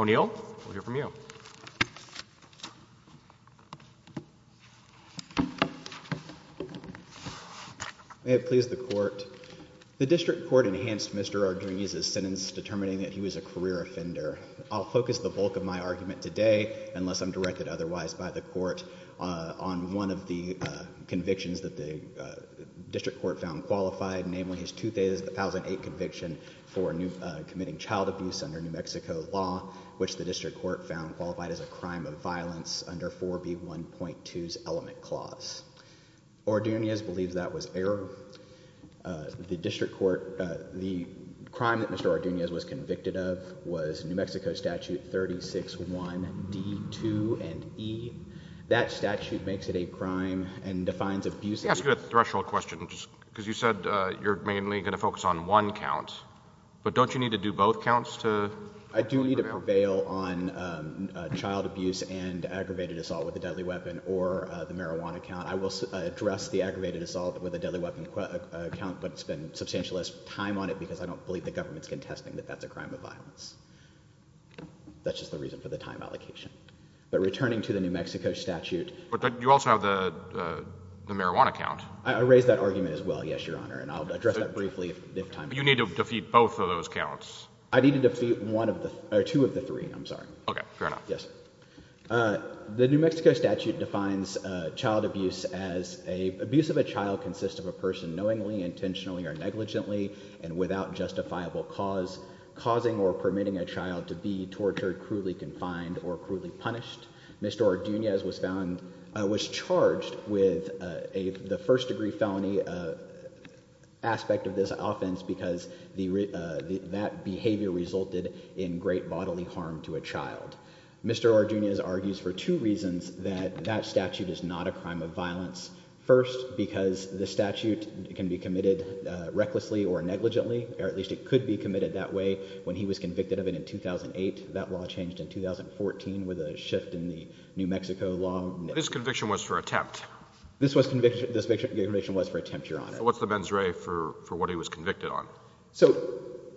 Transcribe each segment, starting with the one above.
O'Neill, we'll hear from you. May it please the court. The district court enhanced Mr. Ordunez's sentence determining that he was a career offender. I'll focus the bulk of my argument today, unless I'm directed otherwise by the court, on one of the convictions that the district court found qualified, namely his 2008 conviction for committing child abuse under New Mexico law, which the district court found qualified as a crime of violence under 4B1.2's element clause. Ordunez believes that was error. The district court, the crime that Mr. Ordunez was convicted of was New Mexico statute 36-1D2 and E. That statute makes it a crime and defines abuse as a crime. Let me ask you a threshold question, because you said you're mainly going to focus on one count. But don't you need to do both counts to prevail? I do need to prevail on child abuse and aggravated assault with a deadly weapon, or the marijuana count. I will address the aggravated assault with a deadly weapon count, but spend substantial time on it, because I don't believe the government's contesting that that's a crime of violence. That's just the reason for the time allocation. But returning to the New Mexico statute. But you also have the marijuana count. And I'll address that briefly if time permits. You need to defeat both of those counts. I need to defeat two of the three, I'm sorry. OK, fair enough. Yes. The New Mexico statute defines child abuse as abuse of a child consists of a person knowingly, intentionally, or negligently, and without justifiable cause, causing or permitting a child to be tortured, cruelly confined, or cruelly punished. Mr. Ordunez was found, was charged with the first degree felony aspect of this offense, because that behavior resulted in great bodily harm to a child. Mr. Ordunez argues for two reasons that that statute is not a crime of violence. First, because the statute can be committed recklessly or negligently, or at least it could be committed that way. When he was convicted of it in 2008, that law changed in 2014 with a shift in the New Mexico law. This conviction was for attempt. This conviction was for attempt, Your Honor. What's the mens rea for what he was convicted on? So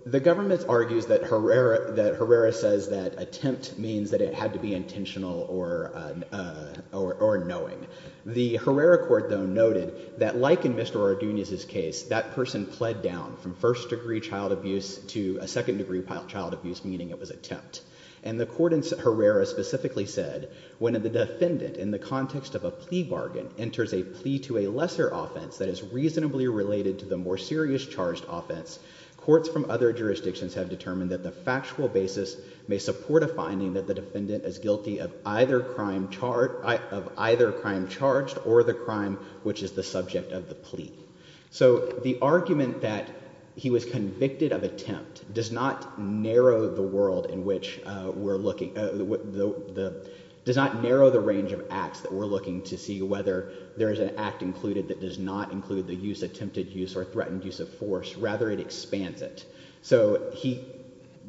the government argues that Herrera says that attempt means that it had to be intentional or knowing. The Herrera court, though, noted that like in Mr. Ordunez's case, that person pled down from first degree child abuse to a second degree child abuse, meaning it was attempt. And the court in Herrera specifically said when the defendant, in the context of a plea bargain, enters a plea to a lesser offense that is reasonably related to the more serious charged offense, courts from other jurisdictions have determined that the factual basis may support a finding that the defendant is guilty of either crime charged or the crime which is the subject of the plea. So the argument that he was convicted of attempt does not narrow the world in which we're looking, does not narrow the range of acts that we're looking to see whether there is an act included that does not include the use, attempted use, or threatened use of force. Rather, it expands it. So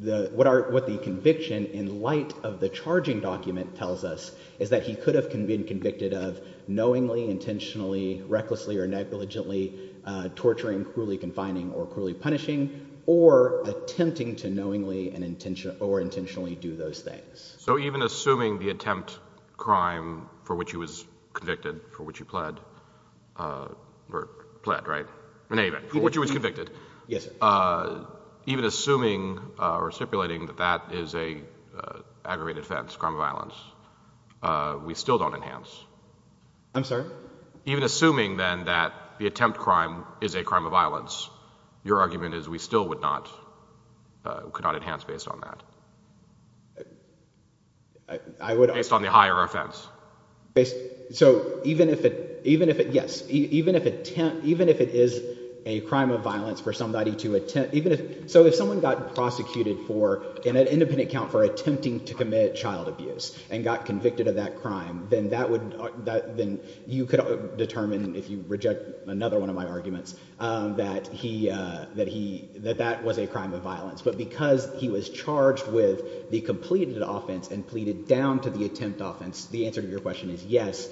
what the conviction, in light of the charging document, tells us is that he could have been convicted of knowingly, intentionally, recklessly, or negligently torturing, cruelly confining, or cruelly punishing, or attempting to knowingly or intentionally do those things. So even assuming the attempt crime for which he was convicted, for which he pled, or pled, right? In any event, for which he was convicted, even assuming or stipulating that that is a aggravated offense, crime of violence, we still don't enhance. I'm sorry? Even assuming, then, that the attempt crime is a crime of violence, your argument is we still could not enhance based on that? Based on the higher offense. So even if it, yes, even if it is a crime of violence for somebody to attempt, even if, so if someone got prosecuted for, in an independent account, for attempting to commit child abuse, and got convicted of that crime, then you could determine, if you reject another one of my arguments, that that was a crime of violence. But because he was charged with the completed offense and pleaded down to the attempt offense, the answer to your question is, yes,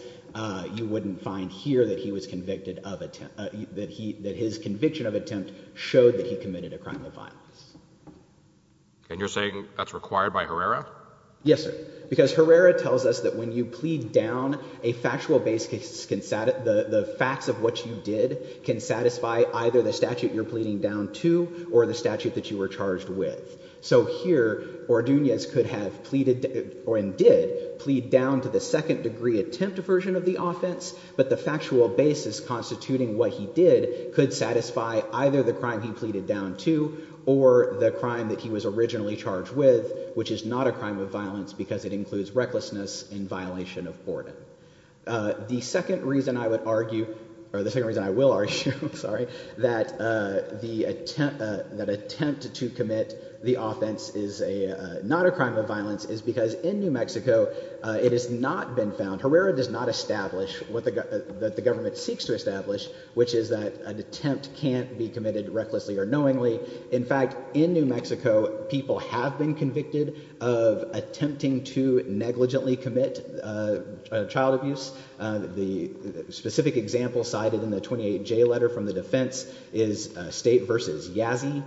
you wouldn't find here that he was convicted of attempt, that his conviction of attempt showed that he committed a crime of violence. And you're saying that's required by Herrera? Yes, sir. Because Herrera tells us that when you plead down a factual basis, the facts of what you did can satisfy either the statute you're pleading down to, or the statute that you were charged with. So here, Ordunas could have pleaded, or indeed, plead down to the second degree attempt version of the offense. But the factual basis constituting what he did could satisfy either the crime he pleaded down to, charged with, which is not a crime of violence, because it includes recklessness in violation of Ordun. The second reason I would argue, or the second reason I will argue, sorry, that attempt to commit the offense is not a crime of violence is because in New Mexico, it has not been found, Herrera does not establish what the government seeks to establish, which is that an attempt can't be committed recklessly or knowingly. In fact, in New Mexico, people have been convicted of attempting to negligently commit child abuse. The specific example cited in the 28J letter from the defense is State versus Yazzie.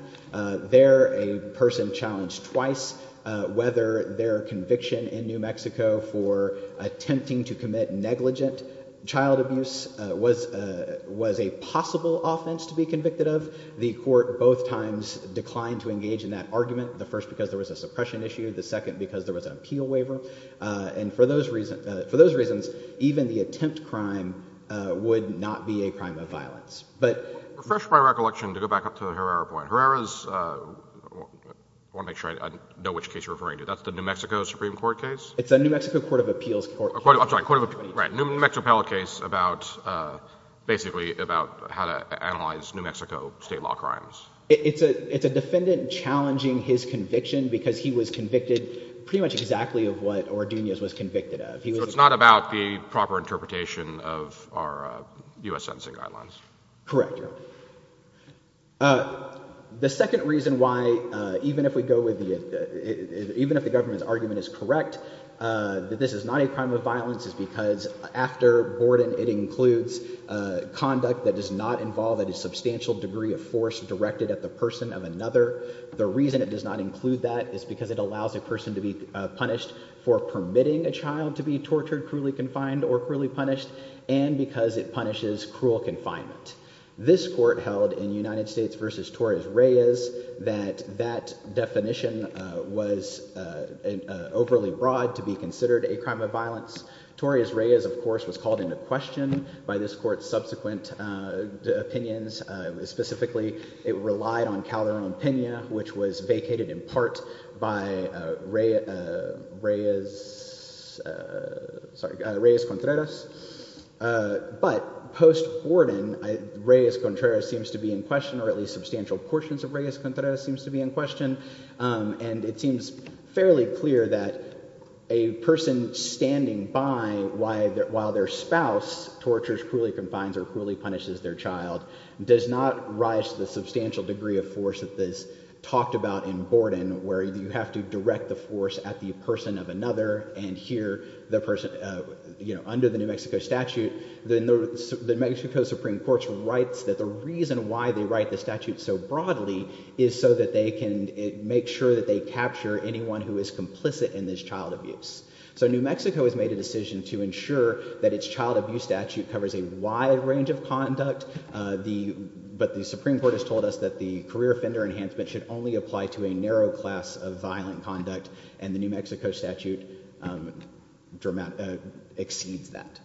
There, a person challenged twice whether their conviction in New Mexico for attempting to commit negligent child abuse was a possible offense to be convicted of. The court both times declined to engage in that argument. The first, because there was a suppression issue. The second, because there was an appeal waiver. And for those reasons, even the attempt crime would not be a crime of violence. But Refresh my recollection to go back up to the Herrera point. Herrera's, I want to make sure I know which case you're referring to. That's the New Mexico Supreme Court case? It's a New Mexico Court of Appeals case. I'm sorry, New Mexico appellate case about basically about how to analyze New Mexico state law crimes. It's a defendant challenging his conviction because he was convicted pretty much exactly of what Ordunoz was convicted of. So it's not about the proper interpretation of our US sentencing guidelines. Correct. Correct. The second reason why, even if the government's argument is correct, that this is not a crime of violence is because after Borden, it includes conduct that does not involve a substantial degree of force directed at the person of another. The reason it does not include that is because it allows a person to be punished for permitting a child to be tortured, cruelly confined, or cruelly punished, and because it punishes cruel confinement. This court held in United States versus Torres-Reyes that that definition was overly broad to be considered a crime of violence. Torres-Reyes, of course, was called into question by this court's subsequent opinions. Specifically, it relied on Calderon-Pena, which was vacated in part by Reyes-Contreras. But post-Borden, Reyes-Contreras seems to be in question, or at least substantial portions of Reyes-Contreras seems to be in question. And it seems fairly clear that a person standing by while their spouse tortures, cruelly confines, or cruelly punishes their child does not rise to the substantial degree of force that is talked about in Borden, where you have to direct the force at the person of another. And here, under the New Mexico statute, the New Mexico Supreme Court writes that the reason why they write the statute so broadly is so that they can make sure that they capture anyone who is complicit in this child abuse. So New Mexico has made a decision to ensure that its child abuse statute covers a wide range of conduct. But the Supreme Court has told us that the career offender enhancement should only apply to a narrow class of violent conduct, and the New Mexico statute exceeds that.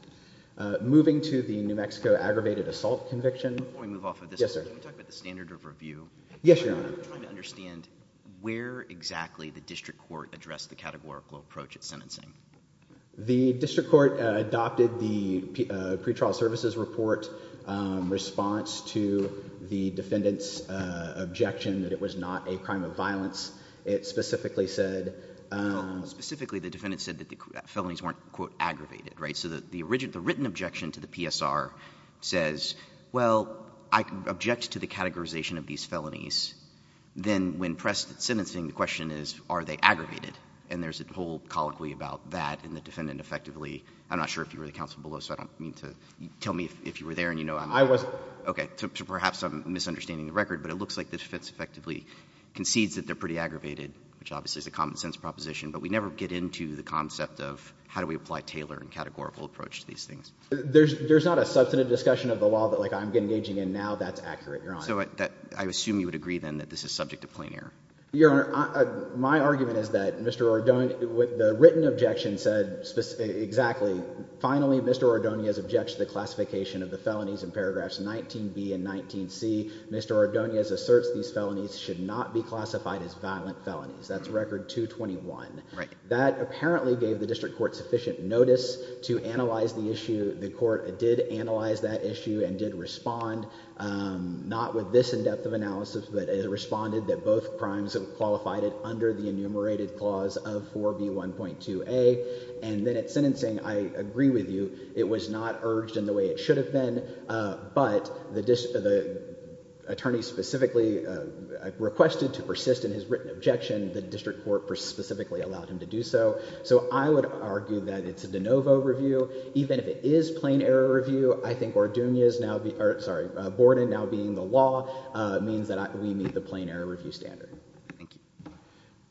Moving to the New Mexico aggravated assault conviction. Before we move off of this, I want to talk about the standard of review. Yes, Your Honor. I'm trying to understand where exactly the district court addressed the categorical approach at sentencing. The district court adopted the pretrial services report response to the defendant's objection that it was not a crime of violence. It specifically said that the felonies weren't, quote, aggravated. So the written objection to the PSR says, well, I object to the categorization of these felonies. Then when pressed at sentencing, the question is, are they aggravated? And there's a whole colloquy about that. And the defendant effectively, I'm not sure if you were the counsel below, so I don't mean to tell me if you were there and you know I'm not. I wasn't. OK, so perhaps I'm misunderstanding the record. But it looks like the defense effectively concedes that they're pretty aggravated, which obviously is a common sense proposition. But we never get into the concept of how do we apply Taylor and categorical approach to these things. There's not a substantive discussion of the law that I'm engaging in now that's accurate, Your Honor. So I assume you would agree then that this is subject to plain error. Your Honor, my argument is that Mr. Ordonez, with the written objection, said exactly. Finally, Mr. Ordonez objects to the classification of the felonies in paragraphs 19b and 19c. Mr. Ordonez asserts these felonies should not be classified as violent felonies. That's record 221. That apparently gave the district court sufficient notice to analyze the issue. The court did analyze that issue and did respond, not with this in-depth of analysis, but it responded that both crimes have qualified it under the enumerated clause of 4b1.2a. And then at sentencing, I agree with you. It was not urged in the way it should have been. But the attorney specifically requested to persist in his written objection. The district court specifically allowed him to do so. So I would argue that it's a de novo review. Even if it is plain error review, I think Borden now being the law means that we meet the plain error review standard. Thank you.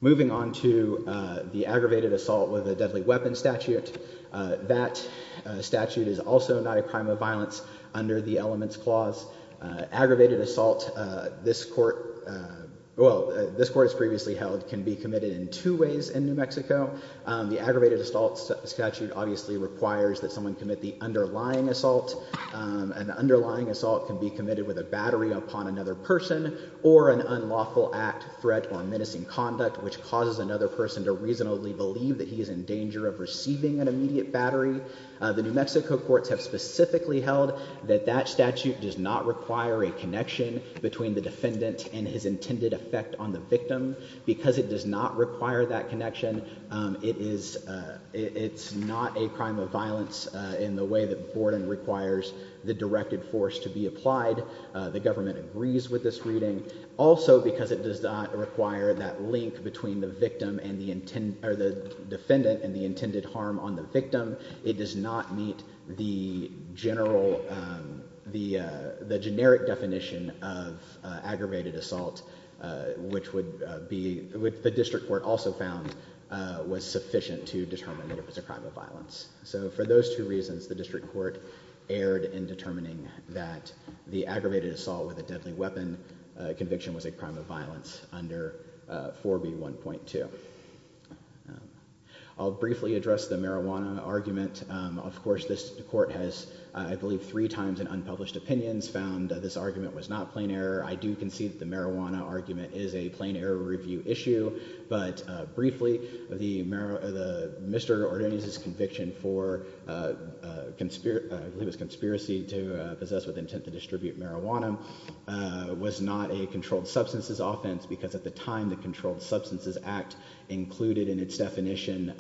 Moving on to the aggravated assault with a deadly weapon statute. That statute is also not a crime of violence under the elements clause. Aggravated assault, this court, well, this court has previously held, can be committed in two ways in New Mexico. The aggravated assault statute obviously requires that someone commit the underlying assault. An underlying assault can be committed with a battery upon another person or an unlawful act, threat, or menacing conduct, which causes another person to reasonably believe that he is in danger of receiving an immediate battery. The New Mexico courts have specifically held that that statute does not require a connection between the defendant and his intended effect on the victim. Because it does not require that connection, it is not a crime of violence in the way that Borden requires the directed force to be applied. The government agrees with this reading. Also, because it does not require that link between the victim and the, or the defendant and the intended harm on the victim, it does not meet the general, the generic definition of aggravated assault, which would be, which the district court also found was sufficient to determine that it was a crime of violence. So for those two reasons, the district court erred in determining that the aggravated assault with a deadly weapon conviction was a crime of violence under 4B1.2. I'll briefly address the marijuana argument. Of course, this court has, I believe, three times in unpublished opinions found that this argument was not plain error. I do concede that the marijuana argument but briefly, Mr. Ordonez's conviction for, I believe it was conspiracy to possess with intent to distribute marijuana was not a controlled substances offense because at the time, the Controlled Substances Act included in its definition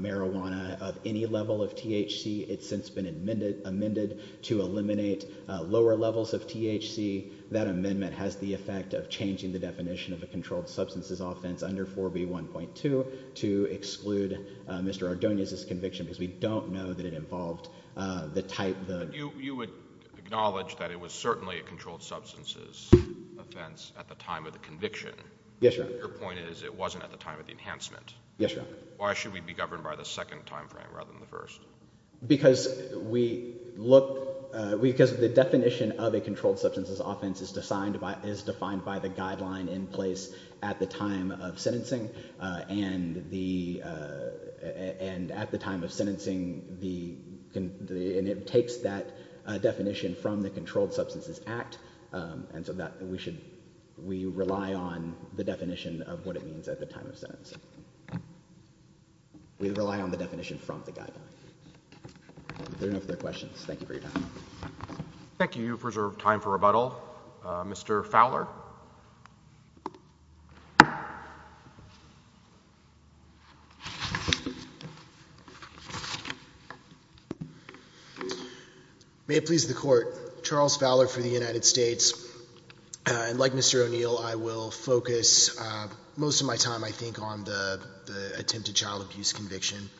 marijuana of any level of THC. It's since been amended to eliminate lower levels of THC. That amendment has the effect of changing the definition of a controlled substances offense under 4B1.2 to exclude Mr. Ordonez's conviction because we don't know that it involved the type of- You would acknowledge that it was certainly a controlled substances offense at the time of the conviction. Yes, Your point is it wasn't at the time of the enhancement. Yes, Your Honor. Why should we be governed by the second timeframe rather than the first? Because we look, because the definition of a controlled substances offense is defined by the guideline in place at the time of sentencing and at the time of sentencing, and it takes that definition from the Controlled Substances Act. And so that we should, we rely on the definition of what it means at the time of sentencing. We rely on the definition from the guideline. There are no further questions. Thank you for your time. Thank you. You've reserved time for rebuttal. Mr. Fowler. May it please the court. Charles Fowler for the United States. And like Mr. O'Neill, I will focus most of my time, I think, on the attempted child abuse conviction.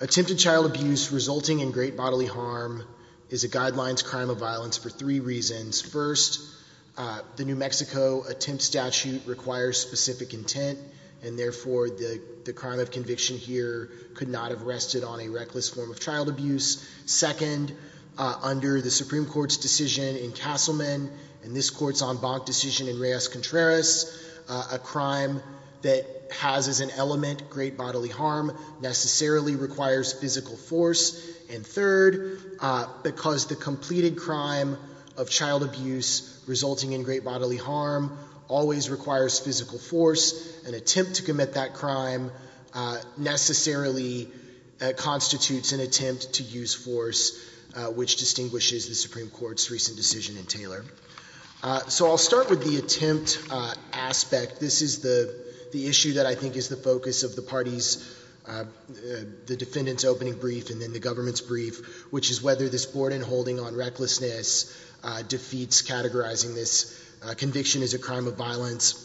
Attempted child abuse resulting in great bodily harm is a guidelines crime of violence for three reasons. requires specific intent and the state of the law requires specific intent. And therefore, the crime of conviction here could not have rested on a reckless form of child abuse. Second, under the Supreme Court's decision in Castleman, and this court's en banc decision in Reyes-Contreras, a crime that has as an element great bodily harm necessarily requires physical force. And third, because the completed crime of child abuse resulting in great bodily harm always requires physical force, an attempt to commit that crime necessarily constitutes an attempt to use force, which distinguishes the Supreme Court's recent decision in Taylor. So I'll start with the attempt aspect. This is the issue that I think is the focus of the party's, the defendant's opening brief and then the government's brief, which is whether this board-in-holding on recklessness defeats categorizing this conviction as a crime of violence.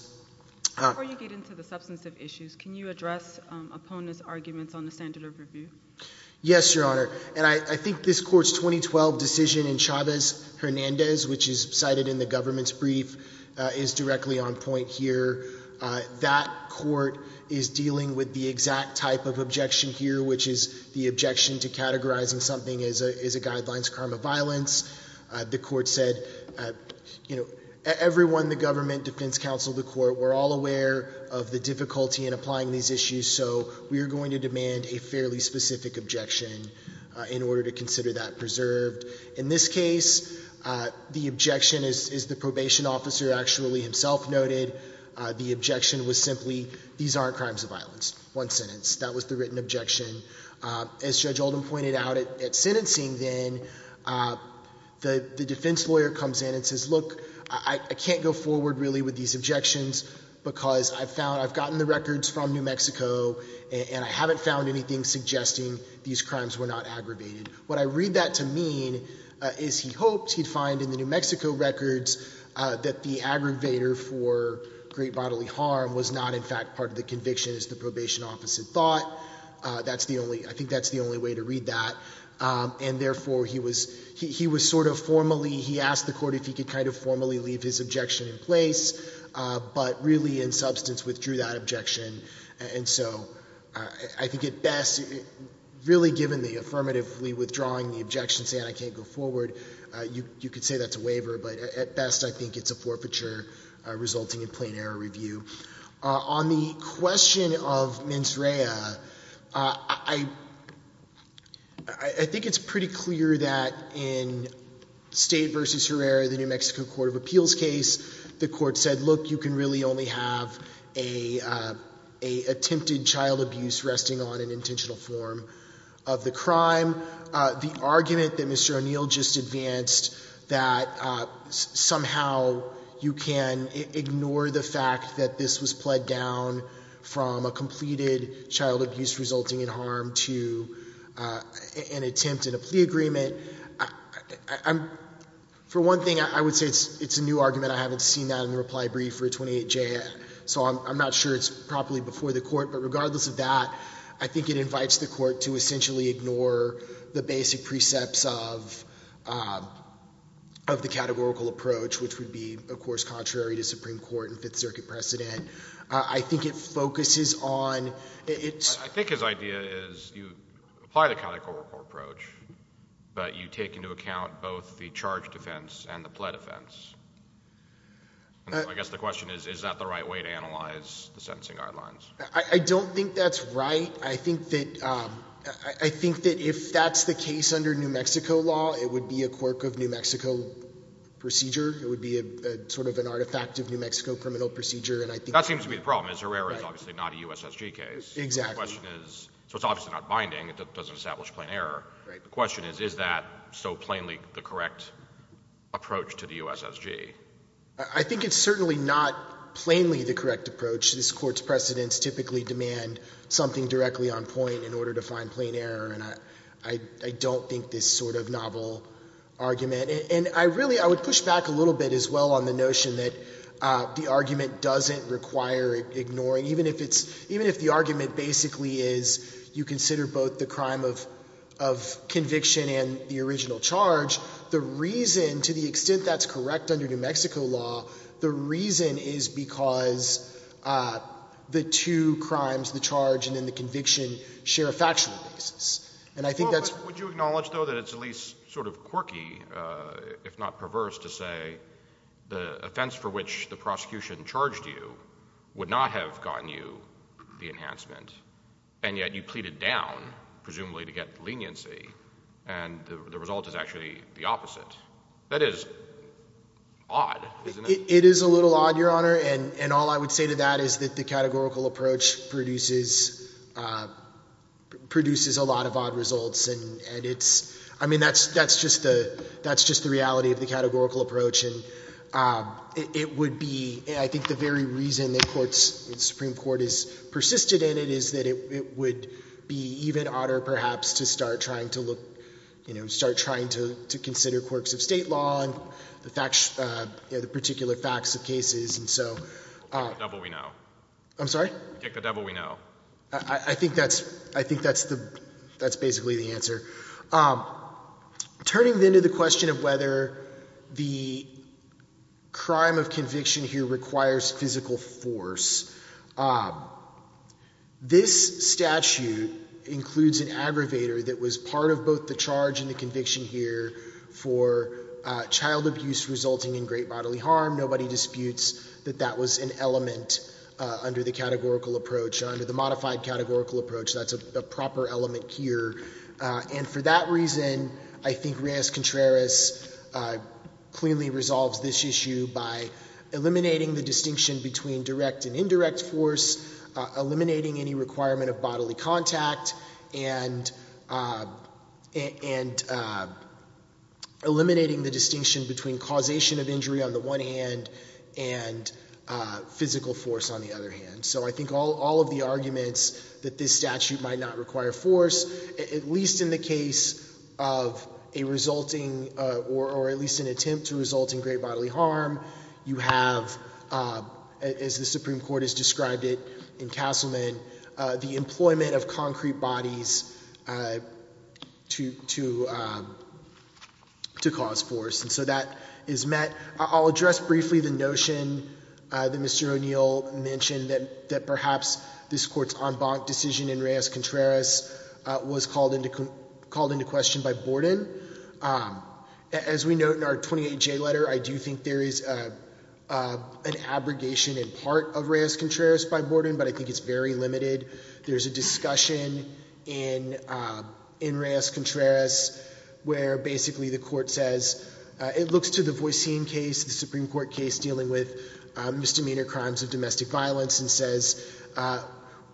Before you get into the substantive issues, can you address opponents' arguments on the standard of review? Yes, Your Honor. And I think this court's 2012 decision in Chavez-Hernandez, which is cited in the government's brief, is directly on point here. That court is dealing with the exact type of objection here, which is the objection to categorizing something as a guidelines crime of violence. The court said, you know, everyone in the government, defense counsel, the court, we're all aware of the difficulty in applying these issues, so we are going to demand a fairly specific objection in order to consider that preserved. In this case, the objection, as the probation officer actually himself noted, the objection was simply, these aren't crimes of violence, one sentence. That was the written objection. As Judge Oldham pointed out, at sentencing then, the defense lawyer comes in and says, I can't go forward really with these objections because I've gotten the records from New Mexico and I haven't found anything suggesting these crimes were not aggravated. What I read that to mean is he hoped, he'd find in the New Mexico records, that the aggravator for great bodily harm was not in fact part of the conviction as the probation officer thought. That's the only, I think that's the only way to read that. And therefore, he was sort of formally, he asked the court if he could kind of formally leave his objection in place, but really, in substance, withdrew that objection. And so, I think at best, really given the affirmatively withdrawing the objection, saying I can't go forward, you could say that's a waiver, but at best, I think it's a forfeiture resulting in plain error review. On the question of mens rea, I think it's pretty clear that in State versus Herrera, the New Mexico Court of Appeals case, the court said, look, you can really only have a attempted child abuse resting on an intentional form of the crime. The argument that Mr. O'Neill just advanced that somehow you can ignore the fact that this was pled down from a completed child abuse resulting in harm to an attempt in a plea agreement, for one thing, I would say it's a new argument. I haven't seen that in the reply brief for a 28J. So, I'm not sure it's properly before the court, but regardless of that, I think it invites the court to essentially ignore the basic precepts of the categorical approach, which would be, of course, I think it focuses on, it's- I think his idea is you apply the categorical approach, but you take into account both the charge defense and the pled offense. I guess the question is, is that the right way to analyze the sentencing guidelines? I don't think that's right. I think that if that's the case under New Mexico law, it would be a quirk of New Mexico procedure. It would be a sort of an artifact of New Mexico criminal procedure, and I think- That seems to be the problem, is Herrera is obviously not a USSG case. Exactly. The question is, so it's obviously not binding. It doesn't establish plain error. The question is, is that so plainly the correct approach to the USSG? I think it's certainly not plainly the correct approach. This court's precedents typically demand something directly on point in order to find plain error, and I don't think this sort of novel argument, and I really, I would push back a little bit as well on the notion that the argument doesn't require ignoring, even if the argument basically is you consider both the crime of conviction and the original charge, the reason, to the extent that's correct under New Mexico law, the reason is because the two crimes, the charge and then the conviction, share a factual basis, and I think that's- Would you acknowledge, though, that it's at least sort of quirky, if not perverse, to say the offense for which the prosecution charged you would not have gotten you the enhancement, and yet you pleaded down, presumably, to get leniency, and the result is actually the opposite? That is odd, isn't it? It is a little odd, Your Honor, and all I would say to that is that the categorical approach produces a lot of odd results, and it's, I mean, that's just the reality of the categorical approach, and it would be, I think, the very reason the Supreme Court has persisted in it is that it would be even odder, perhaps, to start trying to look, start trying to consider quirks of state law and the particular facts of cases, and so- We'll kick the devil we know. I'm sorry? Kick the devil we know. I think that's basically the answer. Turning then to the question of whether the crime of conviction here requires physical force, this statute includes an aggravator that was part of both the charge and the conviction here for child abuse resulting in great bodily harm. Nobody disputes that that was an element under the categorical approach, under the modified categorical approach. That's a proper element here, and for that reason, I think Reyes-Contreras clearly resolves this issue by eliminating the distinction between direct and indirect force, eliminating any requirement of bodily contact, and eliminating the distinction between causation of injury on the one hand and physical force on the other hand, so I think all of the arguments that this statute might not require force, at least in the case of a resulting, or at least an attempt to result in great bodily harm, you have, as the Supreme Court has described it in Castleman, the employment of concrete bodies to cause force, and so that is met. I'll address briefly the notion that Mr. O'Neill mentioned that perhaps this Court's en banc decision in Reyes-Contreras was called into question by Borden. As we note in our 28J letter, I do think there is an abrogation in part of Reyes-Contreras by Borden, but I think it's very limited. There's a discussion in Reyes-Contreras where basically the Court says, it looks to the Voicine case, the Supreme Court case dealing with misdemeanor crimes of domestic violence, and says,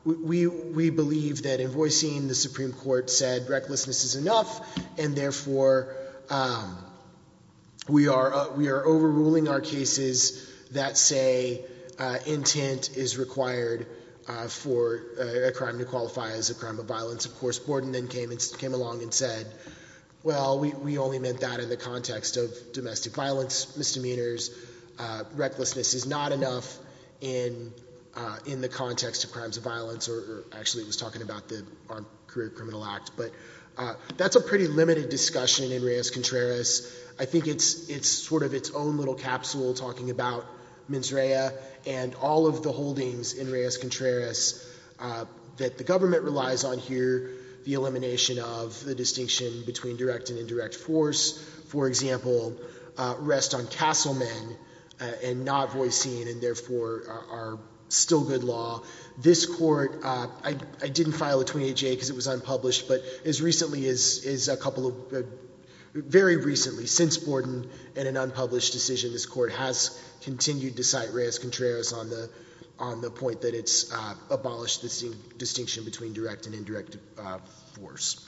we believe that in Voicine, the Supreme Court said recklessness is enough, and therefore we are overruling our cases that say intent is required for a crime to qualify as a crime of violence. Of course, Borden then came along and said, well, we only meant that in the context of domestic violence misdemeanors. Recklessness is not enough in the context of crimes of violence, or actually, he was talking about the Armed Career Criminal Act, but that's a pretty limited discussion in Reyes-Contreras. I think it's sort of its own little capsule talking about mens rea and all of the holdings in Reyes-Contreras that the government relies on here, the elimination of the distinction between direct and indirect force, for example, rest on castle men, and not Voicine, and therefore are still good law. This court, I didn't file a 28-J, because it was unpublished, but as recently as a couple of, very recently, since Borden and an unpublished decision, this court has continued to cite Reyes-Contreras on the point that it's abolished the distinction between direct and indirect force.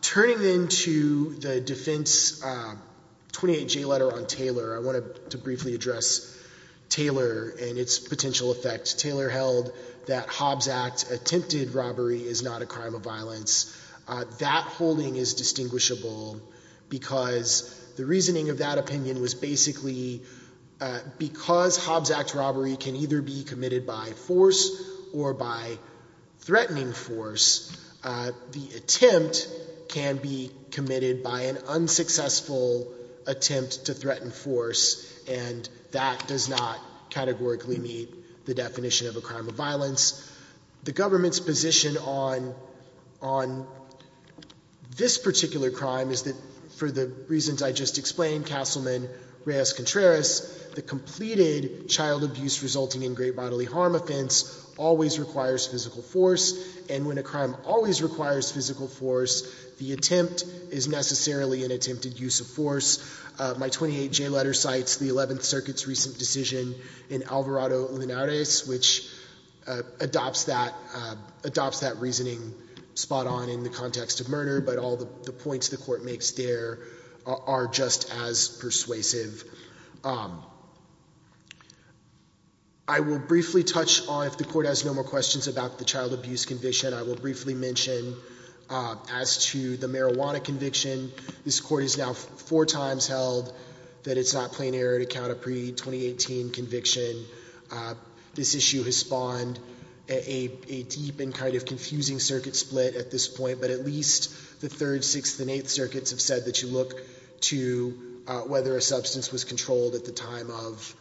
Turning then to the defense 28-J letter on Taylor, I wanted to briefly address Taylor and its potential effect. Taylor held that Hobbs Act attempted robbery is not a crime of violence. That holding is distinguishable, because the reasoning of that opinion was basically, because Hobbs Act robbery can either be committed by force or by threatening force. The attempt can be committed by an unsuccessful attempt to threaten force, and that does not categorically meet the definition of a crime of violence. The government's position on this particular crime is that, for the reasons I just explained, castle men, Reyes-Contreras, the completed child abuse resulting in great bodily harm offense always requires physical force, and when a crime always requires physical force, the attempt is necessarily an attempted use of force. My 28-J letter cites the 11th Circuit's recent decision in Alvarado-Linares, which adopts that reasoning spot on in the context of murder, but all the points the court makes there are just as persuasive. I will briefly touch on, if the court has no more questions about the child abuse conviction, I will briefly mention as to the marijuana conviction. This court has now four times held that it's not plain error to count a pre-2018 conviction. This issue has spawned a deep and kind of confusing circuit split at this point, but at least the Third, Sixth, and Eighth Circuits have said that you look to whether a substance was controlled at the time of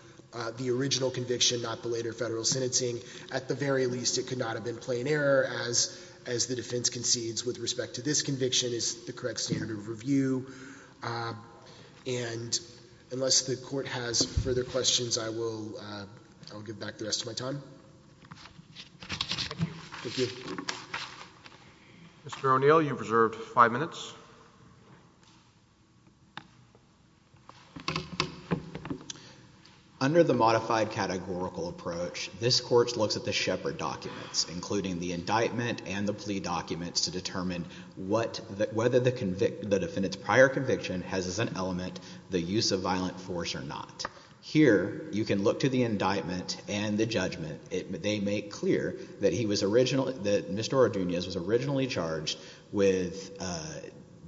the original conviction, not the later federal sentencing. At the very least, it could not have been plain error, as the defense concedes with respect to this conviction is the correct standard of review, and unless the court has further questions, I will give back the rest of my time. Thank you. Mr. O'Neill, you've reserved five minutes. Under the modified categorical approach, this court looks at the Shepard documents, including the indictment and the plea documents to determine whether the defendant's prior conviction has as an element the use of violent force or not. Here, you can look to the indictment and the judgment. They make clear that Mr. Ordunoz was originally charged with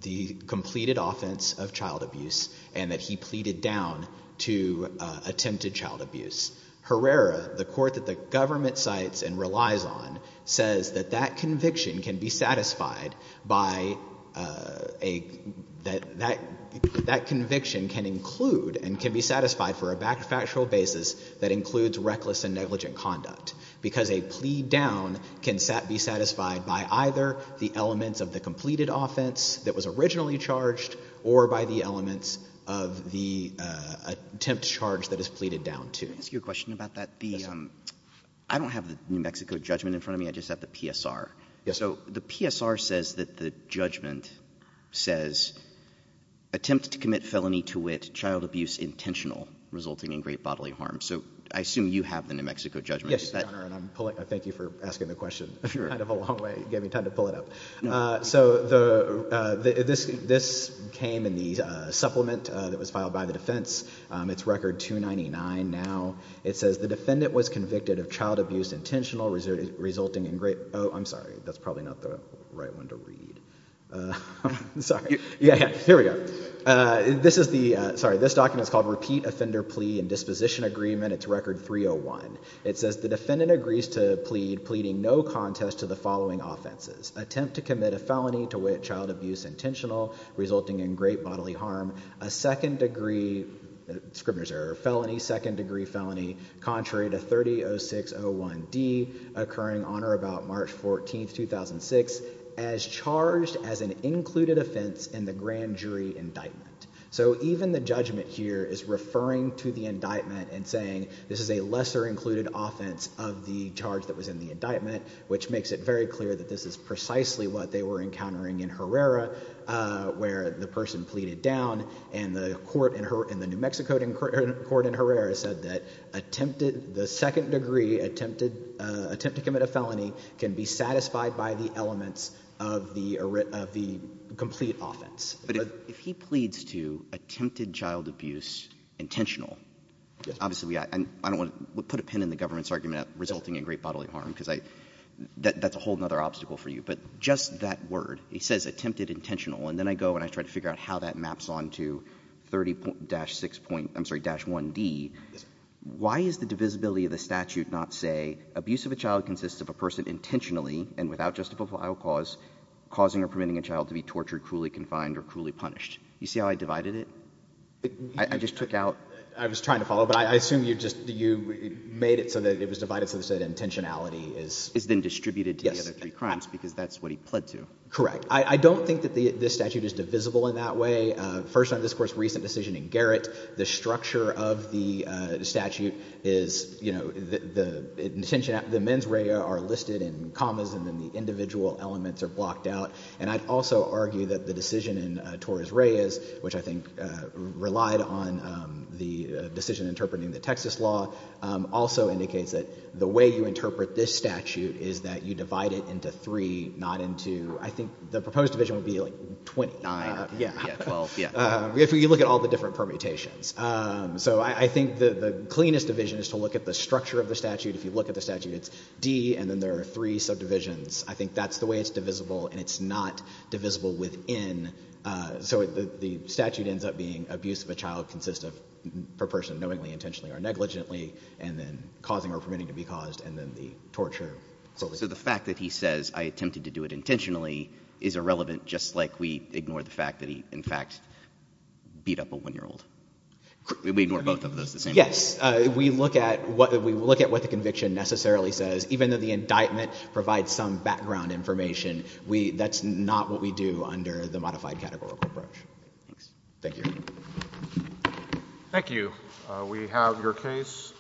the completed offense of child abuse, and that he pleaded down to attempted child abuse. Herrera, the court that the government cites and relies on, says that that conviction can be satisfied by, that conviction can include and can be satisfied for a factual basis that includes reckless and negligent conduct, because a plea down can be satisfied by either the elements of the completed offense that was originally charged, or by the elements of the attempt charge that is pleaded down to. Can I ask you a question about that? I don't have the New Mexico judgment in front of me, I just have the PSR. Yes, sir. So, the PSR says that the judgment says, attempt to commit felony to wit, child abuse intentional, resulting in great bodily harm. So, I assume you have the New Mexico judgment. Yes, Your Honor, and I thank you for asking the question. If you're kind of a long way, you gave me time to pull it up. So, this came in the supplement that was filed by the defense. It's record 299 now. It says, the defendant was convicted of child abuse intentional, resulting in great, oh, I'm sorry, that's probably not the right one to read. Sorry. Yeah, here we go. This is the, sorry, this document's called Repeat Offender Plea and Disposition Agreement. It's record 301. It says, the defendant agrees to plead, pleading no contest to the following offenses. Attempt to commit a felony to wit, child abuse intentional, resulting in great bodily harm, a second degree, scrivener's error, felony, second degree felony, contrary to 30-06-01-D, occurring on or about March 14th, 2006, as charged as an included offense in the grand jury indictment. So, even the judgment here is referring to the indictment and saying, this is a lesser included offense of the charge that was in the indictment, which makes it very clear that this is precisely what they were encountering in Herrera, where the person pleaded down, and the court in the New Mexico court in Herrera said that the second degree attempt to commit a felony can be satisfied by the elements of the complete offense. But if he pleads to attempted child abuse intentional, obviously, I don't wanna put a pin in the government's argument of resulting in great bodily harm, because that's a whole nother obstacle for you. But just that word, he says attempted intentional, and then I go and I try to figure out how that maps on to 30-06-01-D. Why is the divisibility of the statute not say, abuse of a child consists of a person intentionally and without justifiable cause, causing or permitting a child to be tortured, cruelly confined, or cruelly punished? You see how I divided it? I just took out. I was trying to follow, but I assume you just, that intentionality is. Is then distributed to the other three crimes, because that's what he pled to. Correct. I don't think that this statute is divisible in that way. First on this course, recent decision in Garrett, the structure of the statute is, the men's reya are listed in commas, and then the individual elements are blocked out. And I'd also argue that the decision in Torres-Reyes, which I think relied on the decision interpreting the Texas law, also indicates that the way you interpret this statute is that you divide it into three, not into, I think the proposed division would be like 20. Nine, yeah, 12, yeah. If you look at all the different permutations. So I think the cleanest division is to look at the structure of the statute. If you look at the statute, it's D, and then there are three subdivisions. I think that's the way it's divisible, and it's not divisible within. So the statute ends up being, abuse of a child consists of, per person, knowingly, intentionally, or negligently, and then causing or permitting to be caused, and then the torture. So the fact that he says, I attempted to do it intentionally, is irrelevant, just like we ignore the fact that he, in fact, beat up a one-year-old. We ignore both of those the same way. Yes, we look at what the conviction necessarily says, even though the indictment provides some background information, that's not what we do under the modified categorical approach. Thank you. Thank you. Thank you. We have your case.